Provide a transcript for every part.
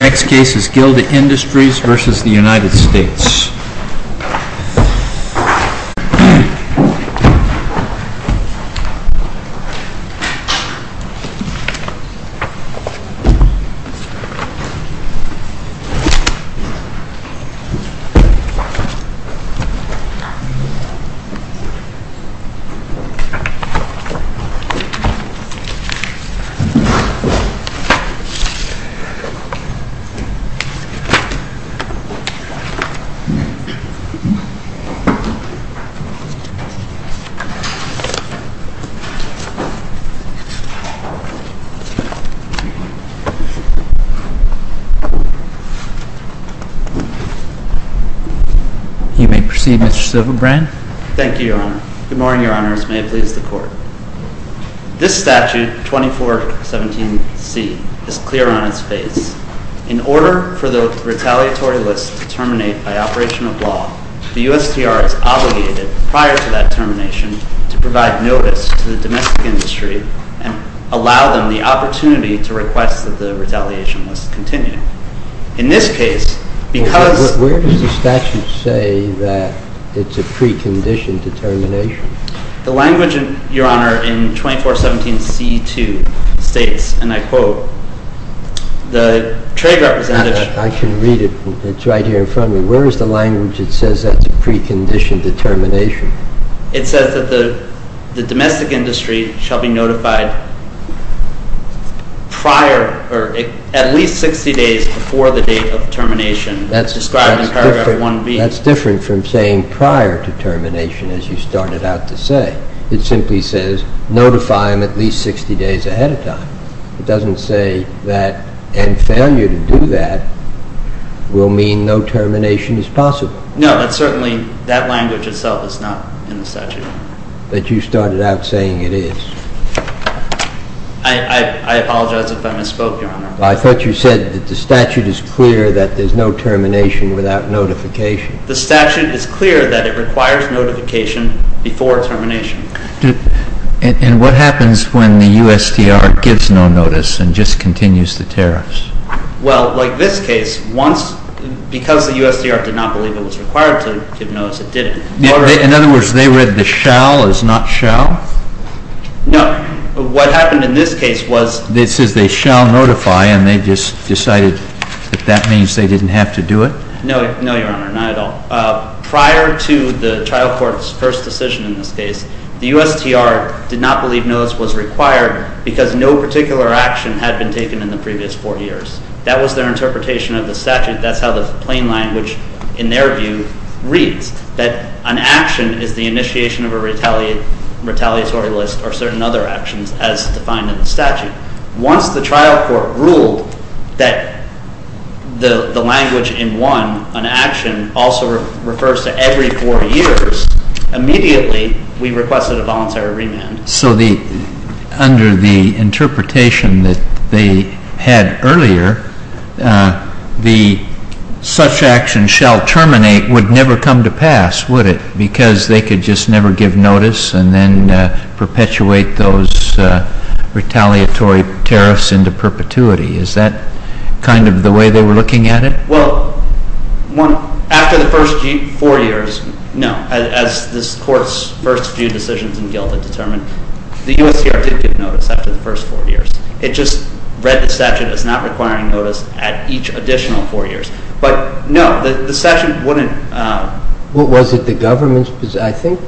Next case is Gilda Industries v. United States You may proceed, Mr. Silverbrand. Thank you, Your Honor. Good morning, Your Honors. May it please the Court. This statute, 2417C, is clear on its face. In order for the retaliatory list to terminate by operation of law, the USTR is obligated, prior to that termination, to provide notice to the domestic industry and allow them the opportunity to request that the retaliation list continue. In this case, because Where does the statute say that it's a precondition to termination? The language, Your Honor, in 2417C2 states, and I quote, the trade representative I can read it. It's right here in front of me. Where is the language that says that it's a precondition to termination? It says that the domestic industry shall be notified at least 60 days before the date of termination, described in paragraph 1B. That's different from saying prior to termination, as you started out to say. It simply says, notify them at least 60 days ahead of time. It doesn't say that, and fail you to do that, will mean no termination is possible. No, that's certainly, that language itself is not in the statute. But you started out saying it is. I apologize if I misspoke, Your Honor. I thought you said that the statute is clear that there's no termination without notification. The statute is clear that it requires notification before termination. And what happens when the USTR gives no notice and just continues the tariffs? Well, like this case, once, because the USTR did not believe it was required to give notice, it didn't. In other words, they read the shall as not shall? No, what happened in this case was- It says they shall notify, and they just decided that that means they didn't have to do it? No, Your Honor, not at all. Prior to the trial court's first decision in this case, the USTR did not believe notice was required because no particular action had been taken in the previous four years. That was their interpretation of the statute. That's how the plain language, in their view, reads. That an action is the initiation of a retaliatory list or certain other actions as defined in the statute. Once the trial court ruled that the language in one, an action, also refers to every four years, immediately we requested a voluntary remand. So under the interpretation that they had earlier, the such action shall terminate would never come to pass, would it? Because they could just never give notice and then perpetuate those retaliatory tariffs into perpetuity. Is that kind of the way they were looking at it? Well, after the first four years, no. As this court's first few decisions in GILTA determined, the USTR did give notice after the first four years. It just read the statute as not requiring notice at each additional four years. But no, the statute wouldn't- Was it the government's- I think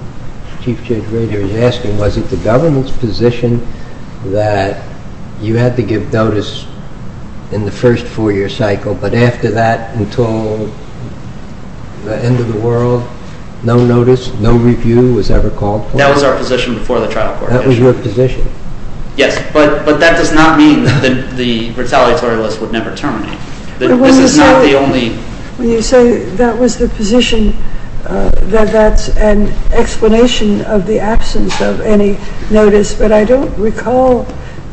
Chief Judge Rader is asking, was it the government's position that you had to give notice in the first four-year cycle, but after that, until the end of the world, no notice, no review was ever called for? That was our position before the trial court. That was your position? Yes, but that does not mean that the retaliatory list would never terminate. This is not the only- When you say that was the position, that's an explanation of the absence of any notice, but I don't recall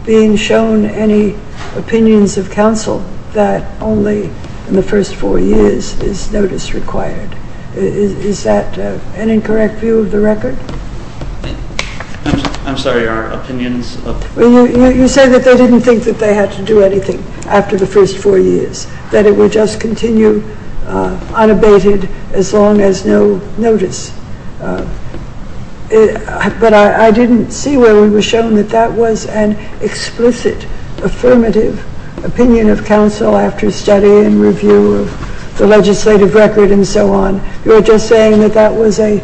being shown any opinions of counsel that only in the first four years is notice required. Is that an incorrect view of the record? I'm sorry, our opinions- You say that they didn't think that they had to do anything after the first four years, that it would just continue unabated as long as no notice. But I didn't see where it was shown that that was an explicit, affirmative opinion of counsel after study and review of the legislative record and so on. You're just saying that that was a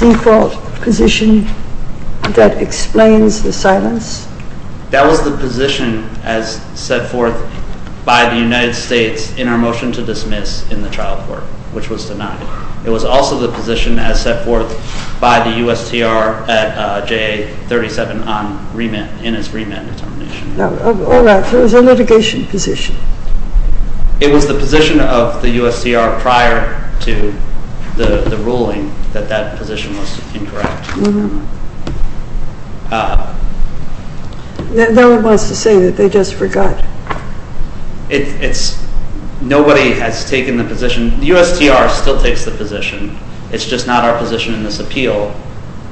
default position that explains the silence? That was the position as set forth by the United States in our motion to dismiss in the trial court, which was denied. It was also the position as set forth by the USTR at JA-37 in its remand determination. All right, so it was a litigation position. It was the position of the USTR prior to the ruling that that position was incorrect. No one wants to say that they just forgot. Nobody has taken the position. The USTR still takes the position. It's just not our position in this appeal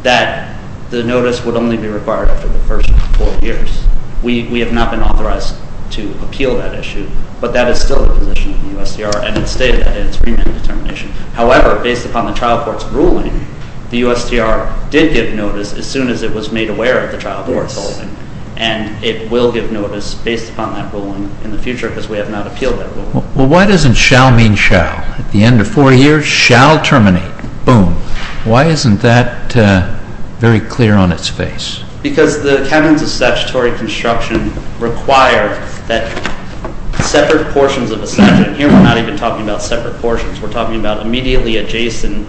that the notice would only be required after the first four years. We have not been authorized to appeal that issue, but that is still the position of the USTR, and it's stated in its remand determination. However, based upon the trial court's ruling, the USTR did give notice as soon as it was made aware of the trial court's ruling, and it will give notice based upon that ruling in the future because we have not appealed that ruling. Well, why doesn't shall mean shall? At the end of four years, shall terminate. Boom. Why isn't that very clear on its face? Because the cabins of statutory construction require that separate portions of a statute, and here we're not even talking about separate portions. We're talking about immediately adjacent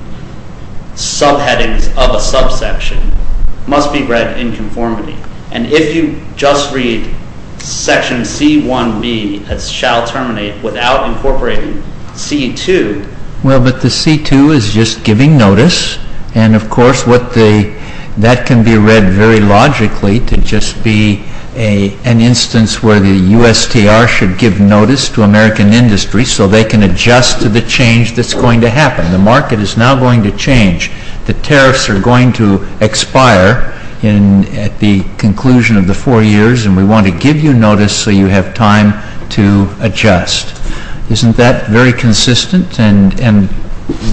subheadings of a subsection, must be read in conformity. And if you just read section C1b as shall terminate without incorporating C2. Well, but the C2 is just giving notice, and, of course, that can be read very logically to just be an instance where the USTR should give notice to American industry so they can adjust to the change that's going to happen. The market is now going to change. The tariffs are going to expire at the conclusion of the four years, and we want to give you notice so you have time to adjust. Isn't that very consistent and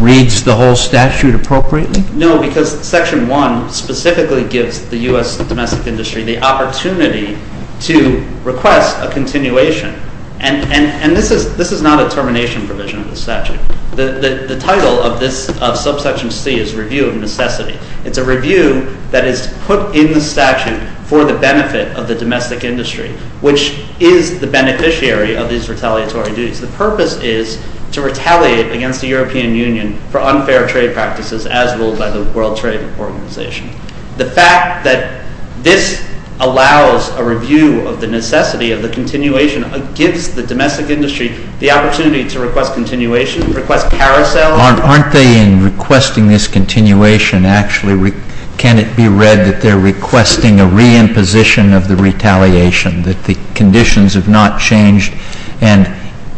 reads the whole statute appropriately? No, because section 1 specifically gives the US domestic industry the opportunity to request a continuation, and this is not a termination provision of the statute. The title of this subsection C is Review of Necessity. It's a review that is put in the statute for the benefit of the domestic industry, which is the beneficiary of these retaliatory duties. The purpose is to retaliate against the European Union for unfair trade practices as ruled by the World Trade Organization. The fact that this allows a review of the necessity of the continuation gives the domestic industry the opportunity to request continuation, request carousel. Aren't they in requesting this continuation, actually? Can it be read that they're requesting a re-imposition of the retaliation, that the conditions have not changed, and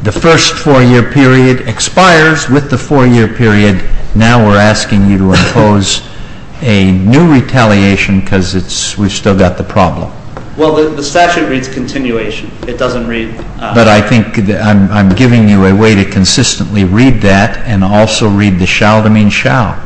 the first four-year period expires with the four-year period. Now we're asking you to impose a new retaliation because we've still got the problem. Well, the statute reads continuation. It doesn't read- But I think I'm giving you a way to consistently read that and also read the shall to mean shall.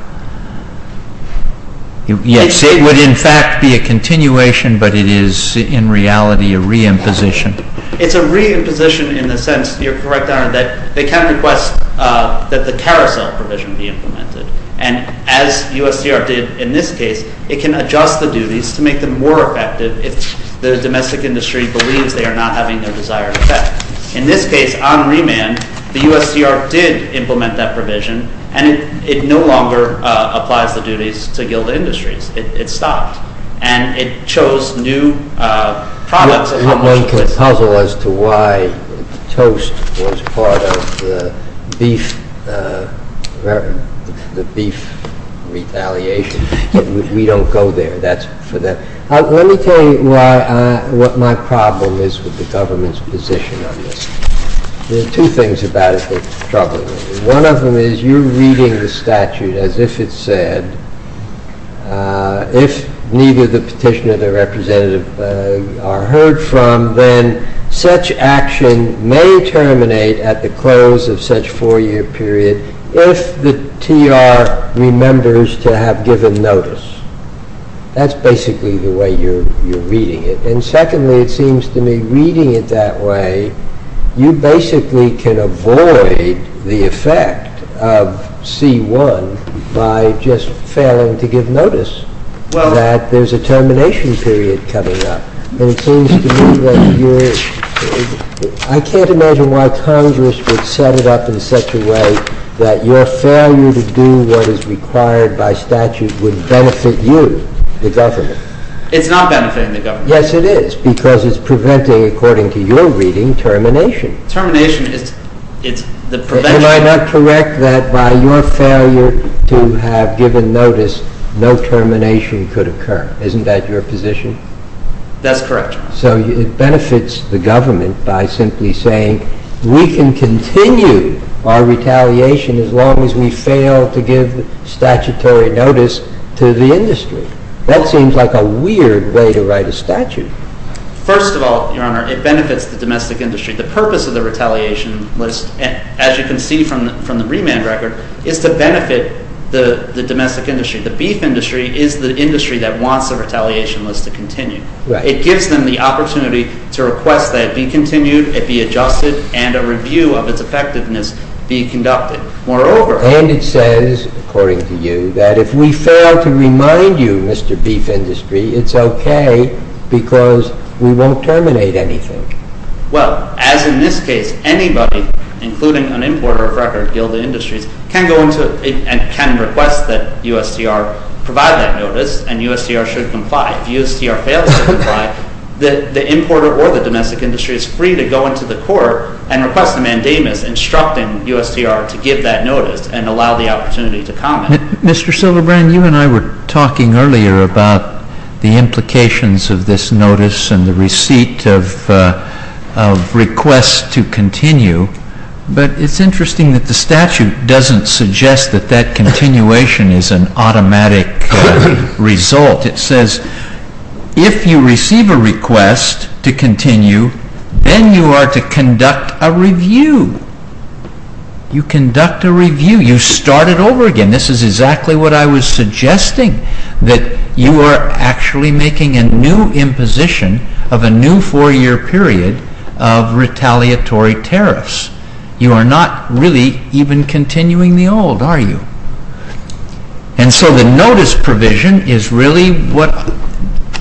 Yes, it would in fact be a continuation, but it is in reality a re-imposition. It's a re-imposition in the sense, you're correct, Your Honor, that they can't request that the carousel provision be implemented, and as USDR did in this case, it can adjust the duties to make them more effective if the domestic industry believes they are not having their desired effect. In this case, on remand, the USDR did implement that provision, and it no longer applies the duties to GILDA Industries. It stopped, and it chose new products- You're making a puzzle as to why toast was part of the beef retaliation. We don't go there. Let me tell you what my problem is with the government's position on this. There are two things about it that trouble me. One of them is you're reading the statute as if it said, if neither the petitioner nor the representative are heard from, then such action may terminate at the close of such four-year period if the TR remembers to have given notice. That's basically the way you're reading it. And secondly, it seems to me, reading it that way, you basically can avoid the effect of C-1 by just failing to give notice that there's a termination period coming up. I can't imagine why Congress would set it up in such a way that your failure to do what is required by statute would benefit you, the government. It's not benefiting the government. Yes, it is, because it's preventing, according to your reading, termination. Termination is the prevention- Am I not correct that by your failure to have given notice, no termination could occur? Isn't that your position? That's correct, Your Honor. So it benefits the government by simply saying, we can continue our retaliation as long as we fail to give statutory notice to the industry. That seems like a weird way to write a statute. First of all, Your Honor, it benefits the domestic industry. The purpose of the retaliation list, as you can see from the remand record, is to benefit the domestic industry. The beef industry is the industry that wants the retaliation list to continue. It gives them the opportunity to request that it be continued, it be adjusted, and a review of its effectiveness be conducted. Moreover- And it says, according to you, that if we fail to remind you, Mr. Beef Industry, it's okay because we won't terminate anything. Well, as in this case, anybody, including an importer of record, Gilda Industries, can request that USTR provide that notice, and USTR should comply. If USTR fails to comply, the importer or the domestic industry is free to go into the court and request a mandamus instructing USTR to give that notice and allow the opportunity to comment. Mr. Silvebrand, you and I were talking earlier about the implications of this notice and the receipt of requests to continue, but it's interesting that the statute doesn't suggest that that continuation is an automatic result. It says, if you receive a request to continue, then you are to conduct a review. You conduct a review. You start it over again. This is exactly what I was suggesting, that you are actually making a new imposition of a new four-year period of retaliatory tariffs. You are not really even continuing the old, are you? And so the notice provision is really what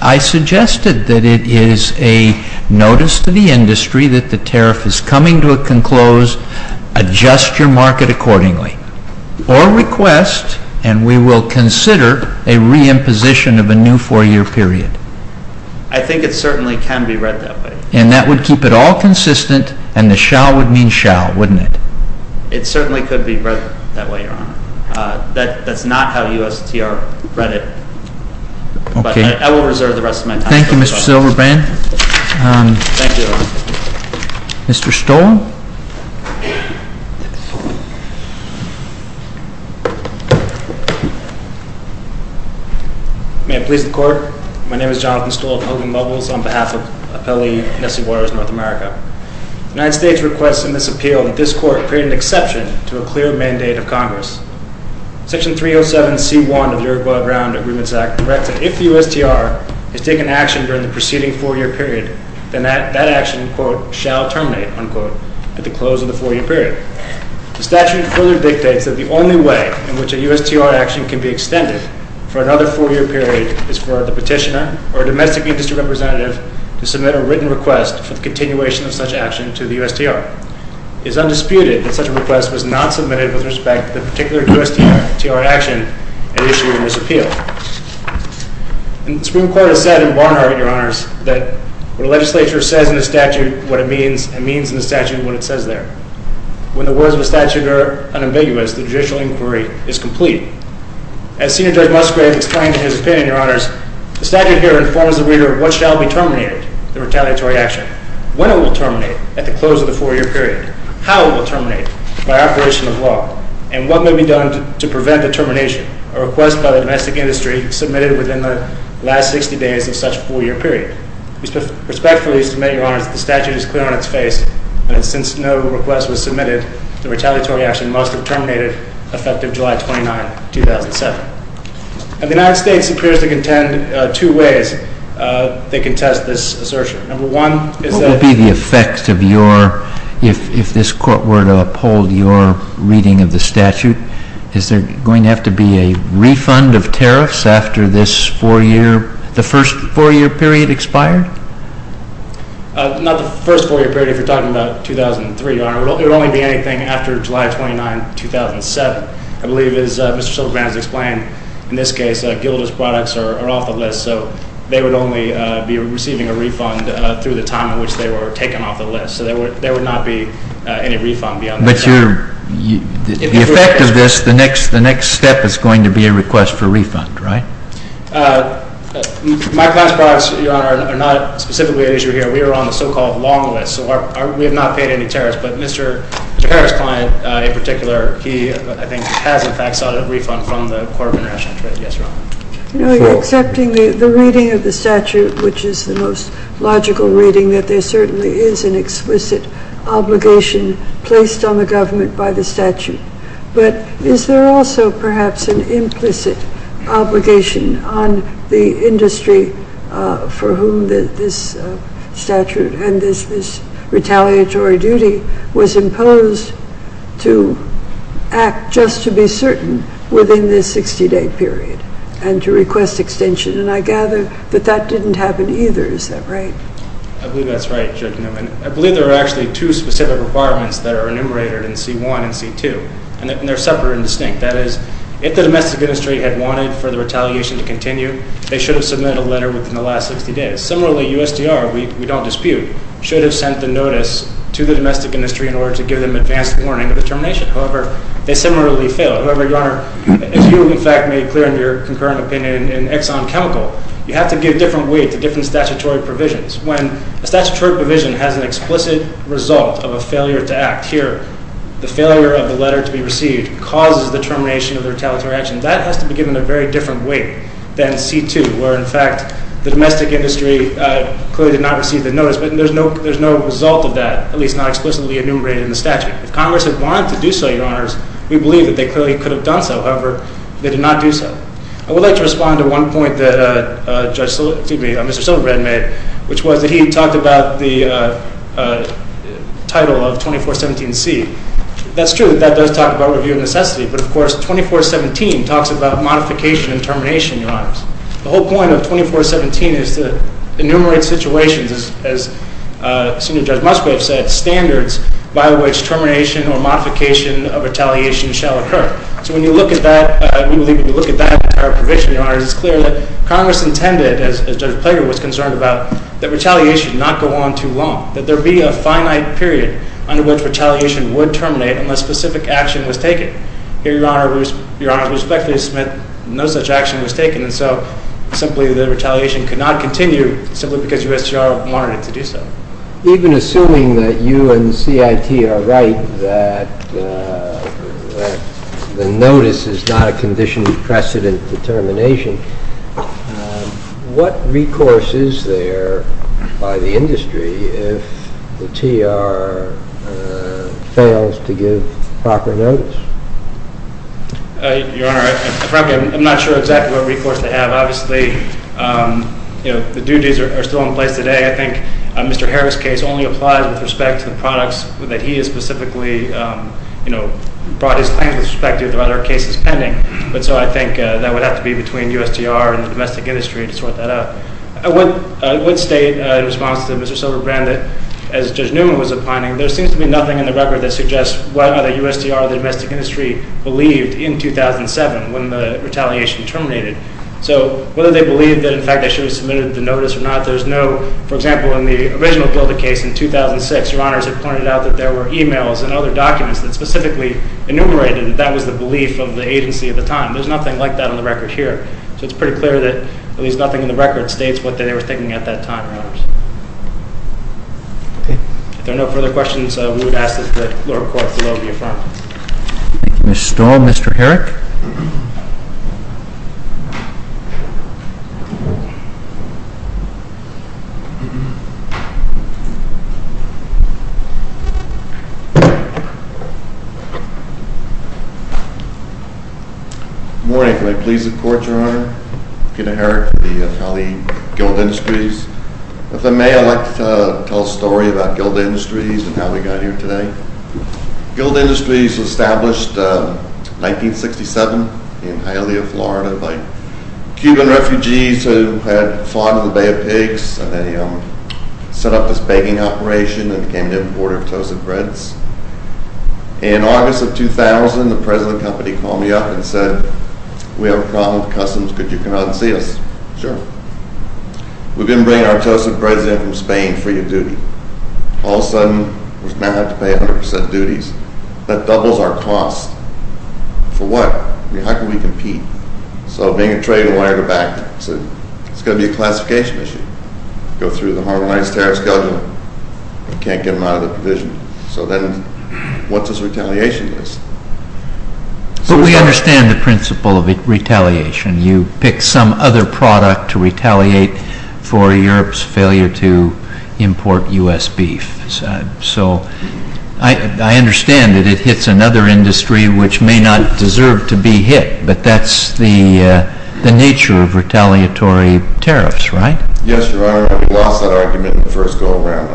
I suggested, that it is a notice to the industry that the tariff is coming to a conclose. Adjust your market accordingly. Or request, and we will consider, a re-imposition of a new four-year period. I think it certainly can be read that way. And that would keep it all consistent, and the shall would mean shall, wouldn't it? It certainly could be read that way, Your Honor. That's not how USTR read it. Okay. But I will reserve the rest of my time for questions. Thank you, Mr. Silvebrand. Thank you, Your Honor. Mr. Stoll? May it please the Court. My name is Jonathan Stoll of Hogan Muggles on behalf of Appellee Nessie Waters, North America. The United States requests in this appeal that this Court create an exception to a clear mandate of Congress. Section 307C1 of the Uruguay Ground Agreements Act directs that if the USTR has taken action during the preceding four-year period, then that action, quote, shall terminate, unquote, at the close of the four-year period. The statute further dictates that the only way in which a USTR action can be extended for another four-year period is for the petitioner or a domestic industry representative to submit a written request for the continuation of such action to the USTR. It is undisputed that such a request was not submitted with respect to the particular USTR action at issue in this appeal. And the Supreme Court has said in Barnard, Your Honors, that what a legislature says in a statute, what it means, and means in a statute and what it says there. When the words of a statute are unambiguous, the judicial inquiry is complete. As Senior Judge Musgrave explained in his opinion, Your Honors, the statute here informs the reader of what shall be terminated, the retaliatory action, when it will terminate at the close of the four-year period, how it will terminate by operation of law, and what may be done to prevent the termination, a request by the domestic industry submitted within the last 60 days of such a four-year period. We respectfully submit, Your Honors, that the statute is clear on its face. And since no request was submitted, the retaliatory action must have terminated effective July 29, 2007. And the United States appears to contend two ways they contest this assertion. Number one is that- What would be the effect of your, if this Court were to uphold your reading of the statute, is there going to have to be a refund of tariffs after this four-year, the first four-year period expired? Not the first four-year period, if you're talking about 2003, Your Honor. It would only be anything after July 29, 2007. I believe, as Mr. Silvergren has explained, in this case, Gilda's products are off the list, so they would only be receiving a refund through the time in which they were taken off the list. So there would not be any refund beyond that time. But the effect of this, the next step is going to be a request for refund, right? My client's products, Your Honor, are not specifically at issue here. We are on the so-called long list, so we have not paid any tariffs. But Mr. Harris' client, in particular, he, I think, has in fact sought a refund from the Court of International Trade. Yes, Your Honor. No, you're accepting the reading of the statute, which is the most logical reading, meaning that there certainly is an explicit obligation placed on the government by the statute. But is there also perhaps an implicit obligation on the industry for whom this statute and this retaliatory duty was imposed to act just to be certain within this 60-day period and to request extension? And I gather that that didn't happen either. Is that right? I believe that's right, Judge Newman. I believe there are actually two specific requirements that are enumerated in C-1 and C-2. And they're separate and distinct. That is, if the domestic industry had wanted for the retaliation to continue, they should have submitted a letter within the last 60 days. Similarly, USTR, we don't dispute, should have sent the notice to the domestic industry in order to give them advance warning of the termination. However, they similarly failed. However, Your Honor, as you have in fact made clear in your concurrent opinion in Exxon Chemical, you have to give different weight to different statutory provisions. When a statutory provision has an explicit result of a failure to act, here the failure of the letter to be received causes the termination of the retaliatory action, that has to be given a very different weight than C-2, where in fact the domestic industry clearly did not receive the notice. But there's no result of that, at least not explicitly enumerated in the statute. If Congress had wanted to do so, Your Honors, we believe that they clearly could have done so. However, they did not do so. I would like to respond to one point that Mr. Silverman made, which was that he talked about the title of 2417C. That's true, that does talk about review of necessity, but of course 2417 talks about modification and termination, Your Honors. The whole point of 2417 is to enumerate situations, as Senior Judge Musgrave said, standards by which termination or modification of retaliation shall occur. So when you look at that entire provision, Your Honors, it's clear that Congress intended, as Judge Plager was concerned about, that retaliation not go on too long, that there be a finite period under which retaliation would terminate unless specific action was taken. Here, Your Honors, we respectfully submit no such action was taken, and so simply the retaliation could not continue simply because USTR wanted it to do so. Even assuming that you and CIT are right that the notice is not a condition of precedent determination, what recourse is there by the industry if the TR fails to give proper notice? Your Honor, frankly, I'm not sure exactly what recourse they have. Obviously, the duties are still in place today. I think Mr. Harris' case only applies with respect to the products that he has specifically, you know, brought his claims with respect to the other cases pending, but so I think that would have to be between USTR and the domestic industry to sort that out. I would state in response to Mr. Silverbrand that as Judge Newman was opining, there seems to be nothing in the record that suggests whether the USTR or the domestic industry believed in 2007 when the retaliation terminated. So whether they believed that in fact they should have submitted the notice or not, there's no, for example, in the original Builder case in 2006, Your Honors have pointed out that there were e-mails and other documents that specifically enumerated that that was the belief of the agency at the time. There's nothing like that on the record here, so it's pretty clear that at least nothing in the record states what they were thinking at that time, Your Honors. If there are no further questions, we would ask that the lower courts be allowed to be affirmed. Thank you, Ms. Storm. Mr. Herrick? Good morning. Can I please the Court, Your Honor? Peter Herrick for the Talley Guild Industries. If I may, I'd like to tell a story about Guild Industries and how we got here today. Guild Industries was established in 1967 in Hialeah, Florida, by Cuban refugees who had fought in the Bay of Pigs, and they set up this baking operation and became the importer of toasted breads. In August of 2000, the president of the company called me up and said, We have a problem with customs. Could you come out and see us? Sure. We've been bringing our toasted breads in from Spain free of duty. All of a sudden, we now have to pay 100% duties. That doubles our costs. For what? I mean, how can we compete? So, being a trading lawyer in the back, it's going to be a classification issue. Go through the harmonized tariff schedule. We can't get them out of the provision. So then, what's this retaliation list? But we understand the principle of retaliation. You pick some other product to retaliate for Europe's failure to import U.S. beef. So, I understand that it hits another industry which may not deserve to be hit, but that's the nature of retaliatory tariffs, right? Yes, Your Honor. We lost that argument in the first go-around.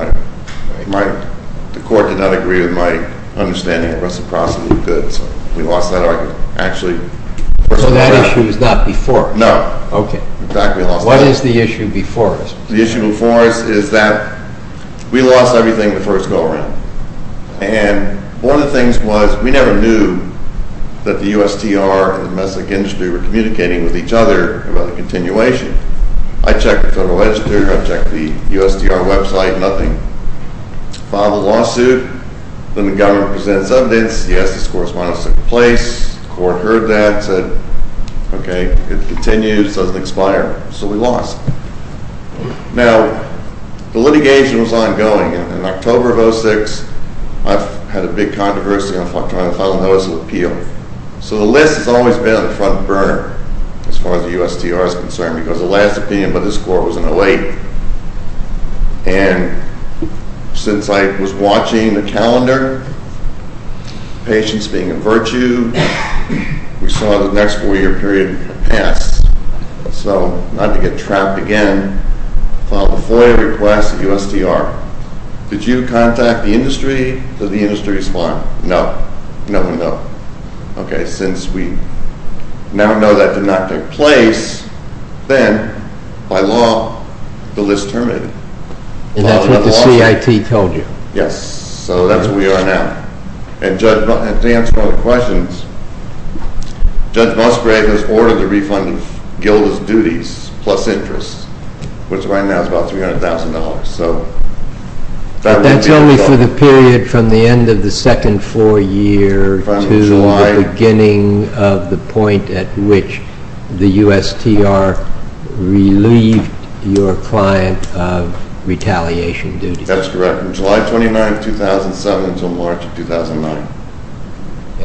The court did not agree with my understanding of reciprocity of goods. We lost that argument. So, that issue is not before? No. Okay. What is the issue before us? The issue before us is that we lost everything in the first go-around. And one of the things was we never knew that the USTR and the domestic industry were communicating with each other about the continuation. I checked the Federal Register. I checked the USTR website. Nothing. Filed a lawsuit. Then the government presented its evidence. Yes, this correspondence took place. The court heard that. It said, okay, it continues. It doesn't expire. So, we lost. Now, the litigation was ongoing. In October of 2006, I had a big controversy. I filed a notice of appeal. So, the list has always been on the front burner as far as the USTR is concerned because the last opinion by this court was in 2008. And since I was watching the calendar, patience being a virtue, we saw the next four-year period pass. So, not to get trapped again, filed a FOIA request at USTR. Did you contact the industry? Did the industry respond? No. No and no. Okay, since we now know that did not take place, then by law, the list terminated. And that's what the CIT told you? Yes, so that's where we are now. And to answer one of the questions, Judge Musgrave has ordered the refund of Gilda's duties plus interest, which right now is about $300,000. That's only for the period from the end of the second four-year to the beginning of the point at which the USTR relieved your client of retaliation duties. That's correct. July 29, 2007 until March of 2009.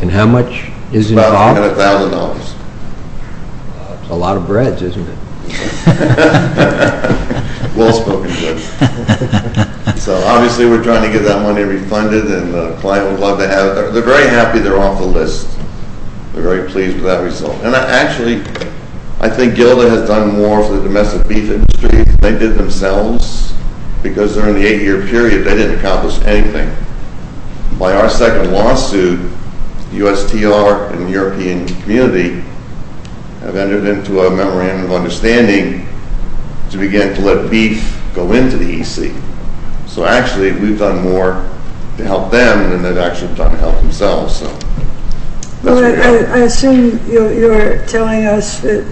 And how much is involved? About $100,000. That's a lot of breads, isn't it? Well spoken, Judge. So, obviously, we're trying to get that money refunded and the client would love to have it. They're very happy they're off the list. They're very pleased with that result. And actually, I think Gilda has done more for the domestic beef industry than they did themselves because they're in the eight-year period. They didn't accomplish anything. By our second lawsuit, USTR and the European community have entered into a memorandum of understanding to begin to let beef go into the EC. So, actually, we've done more to help them than they've actually done to help themselves. I assume you're telling us that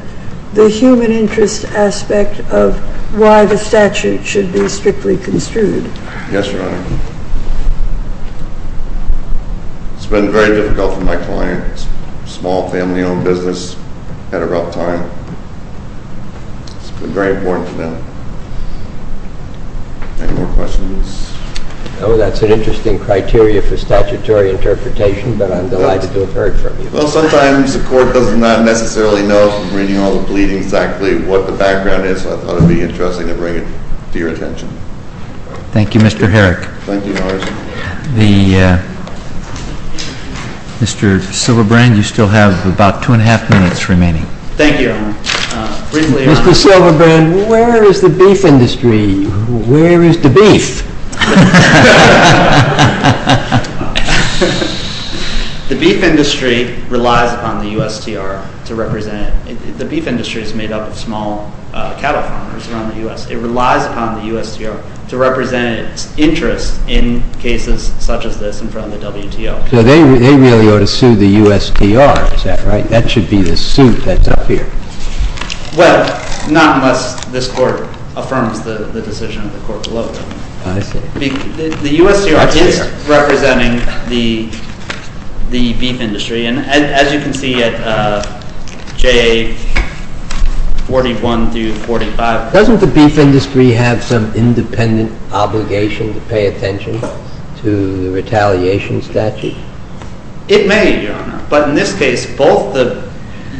the human interest aspect of why the statute should be strictly construed. Yes, Your Honor. It's been very difficult for my clients. Small family-owned business at a rough time. It's been very important for them. Any more questions? No, that's an interesting criteria for statutory interpretation, but I'm delighted to have heard from you. Well, sometimes the court does not necessarily know from reading all the pleadings exactly what the background is. So I thought it would be interesting to bring it to your attention. Thank you, Mr. Herrick. Thank you, Your Honor. Mr. Silverbrand, you still have about two and a half minutes remaining. Thank you, Your Honor. Mr. Silverbrand, where is the beef industry? Where is the beef? The beef industry relies upon the USTR to represent it. The beef industry is made up of small cattle farmers around the U.S. It relies upon the USTR to represent its interest in cases such as this in front of the WTO. So they really ought to sue the USTR, is that right? That should be the suit that's up here. Well, not unless this court affirms the decision of the court below them. I see. The USTR is representing the beef industry. And as you can see at JA 41 through 45. Doesn't the beef industry have some independent obligation to pay attention to the retaliation statute? It may, Your Honor. But in this case, both the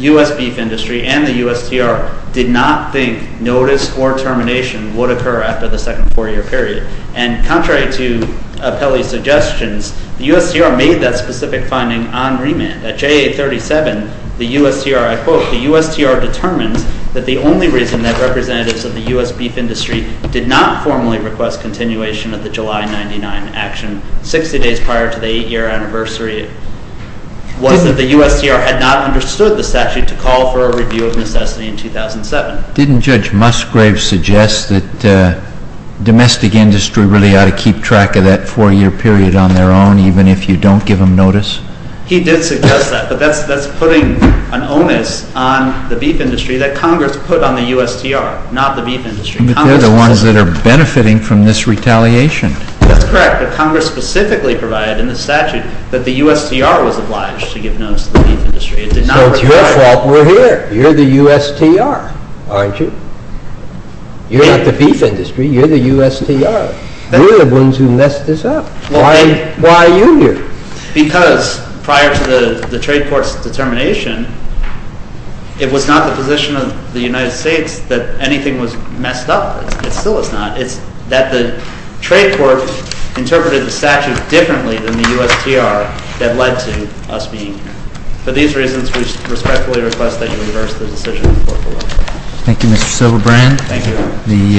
U.S. beef industry and the USTR did not think notice or termination would occur after the second four-year period. And contrary to Apelli's suggestions, the USTR made that specific finding on remand. At JA 37, the USTR, I quote, The USTR determined that the only reason that representatives of the U.S. beef industry did not formally request continuation of the July 99 action 60 days prior to the eight-year anniversary was that the USTR had not understood the statute to call for a review of necessity in 2007. Didn't Judge Musgrave suggest that domestic industry really ought to keep track of that four-year period on their own, even if you don't give them notice? He did suggest that. But that's putting an onus on the beef industry that Congress put on the USTR, not the beef industry. But they're the ones that are benefiting from this retaliation. That's correct. But Congress specifically provided in the statute that the USTR was obliged to give notice to the beef industry. So it's your fault we're here. You're the USTR, aren't you? You're not the beef industry. You're the USTR. You're the ones who messed this up. Why are you here? Because prior to the trade court's determination, it was not the position of the United States that anything was messed up. It still is not. It's that the trade court interpreted the statute differently than the USTR that led to us being here. For these reasons, we respectfully request that you reverse the decision. Thank you, Mr. Silverbrand. Thank you.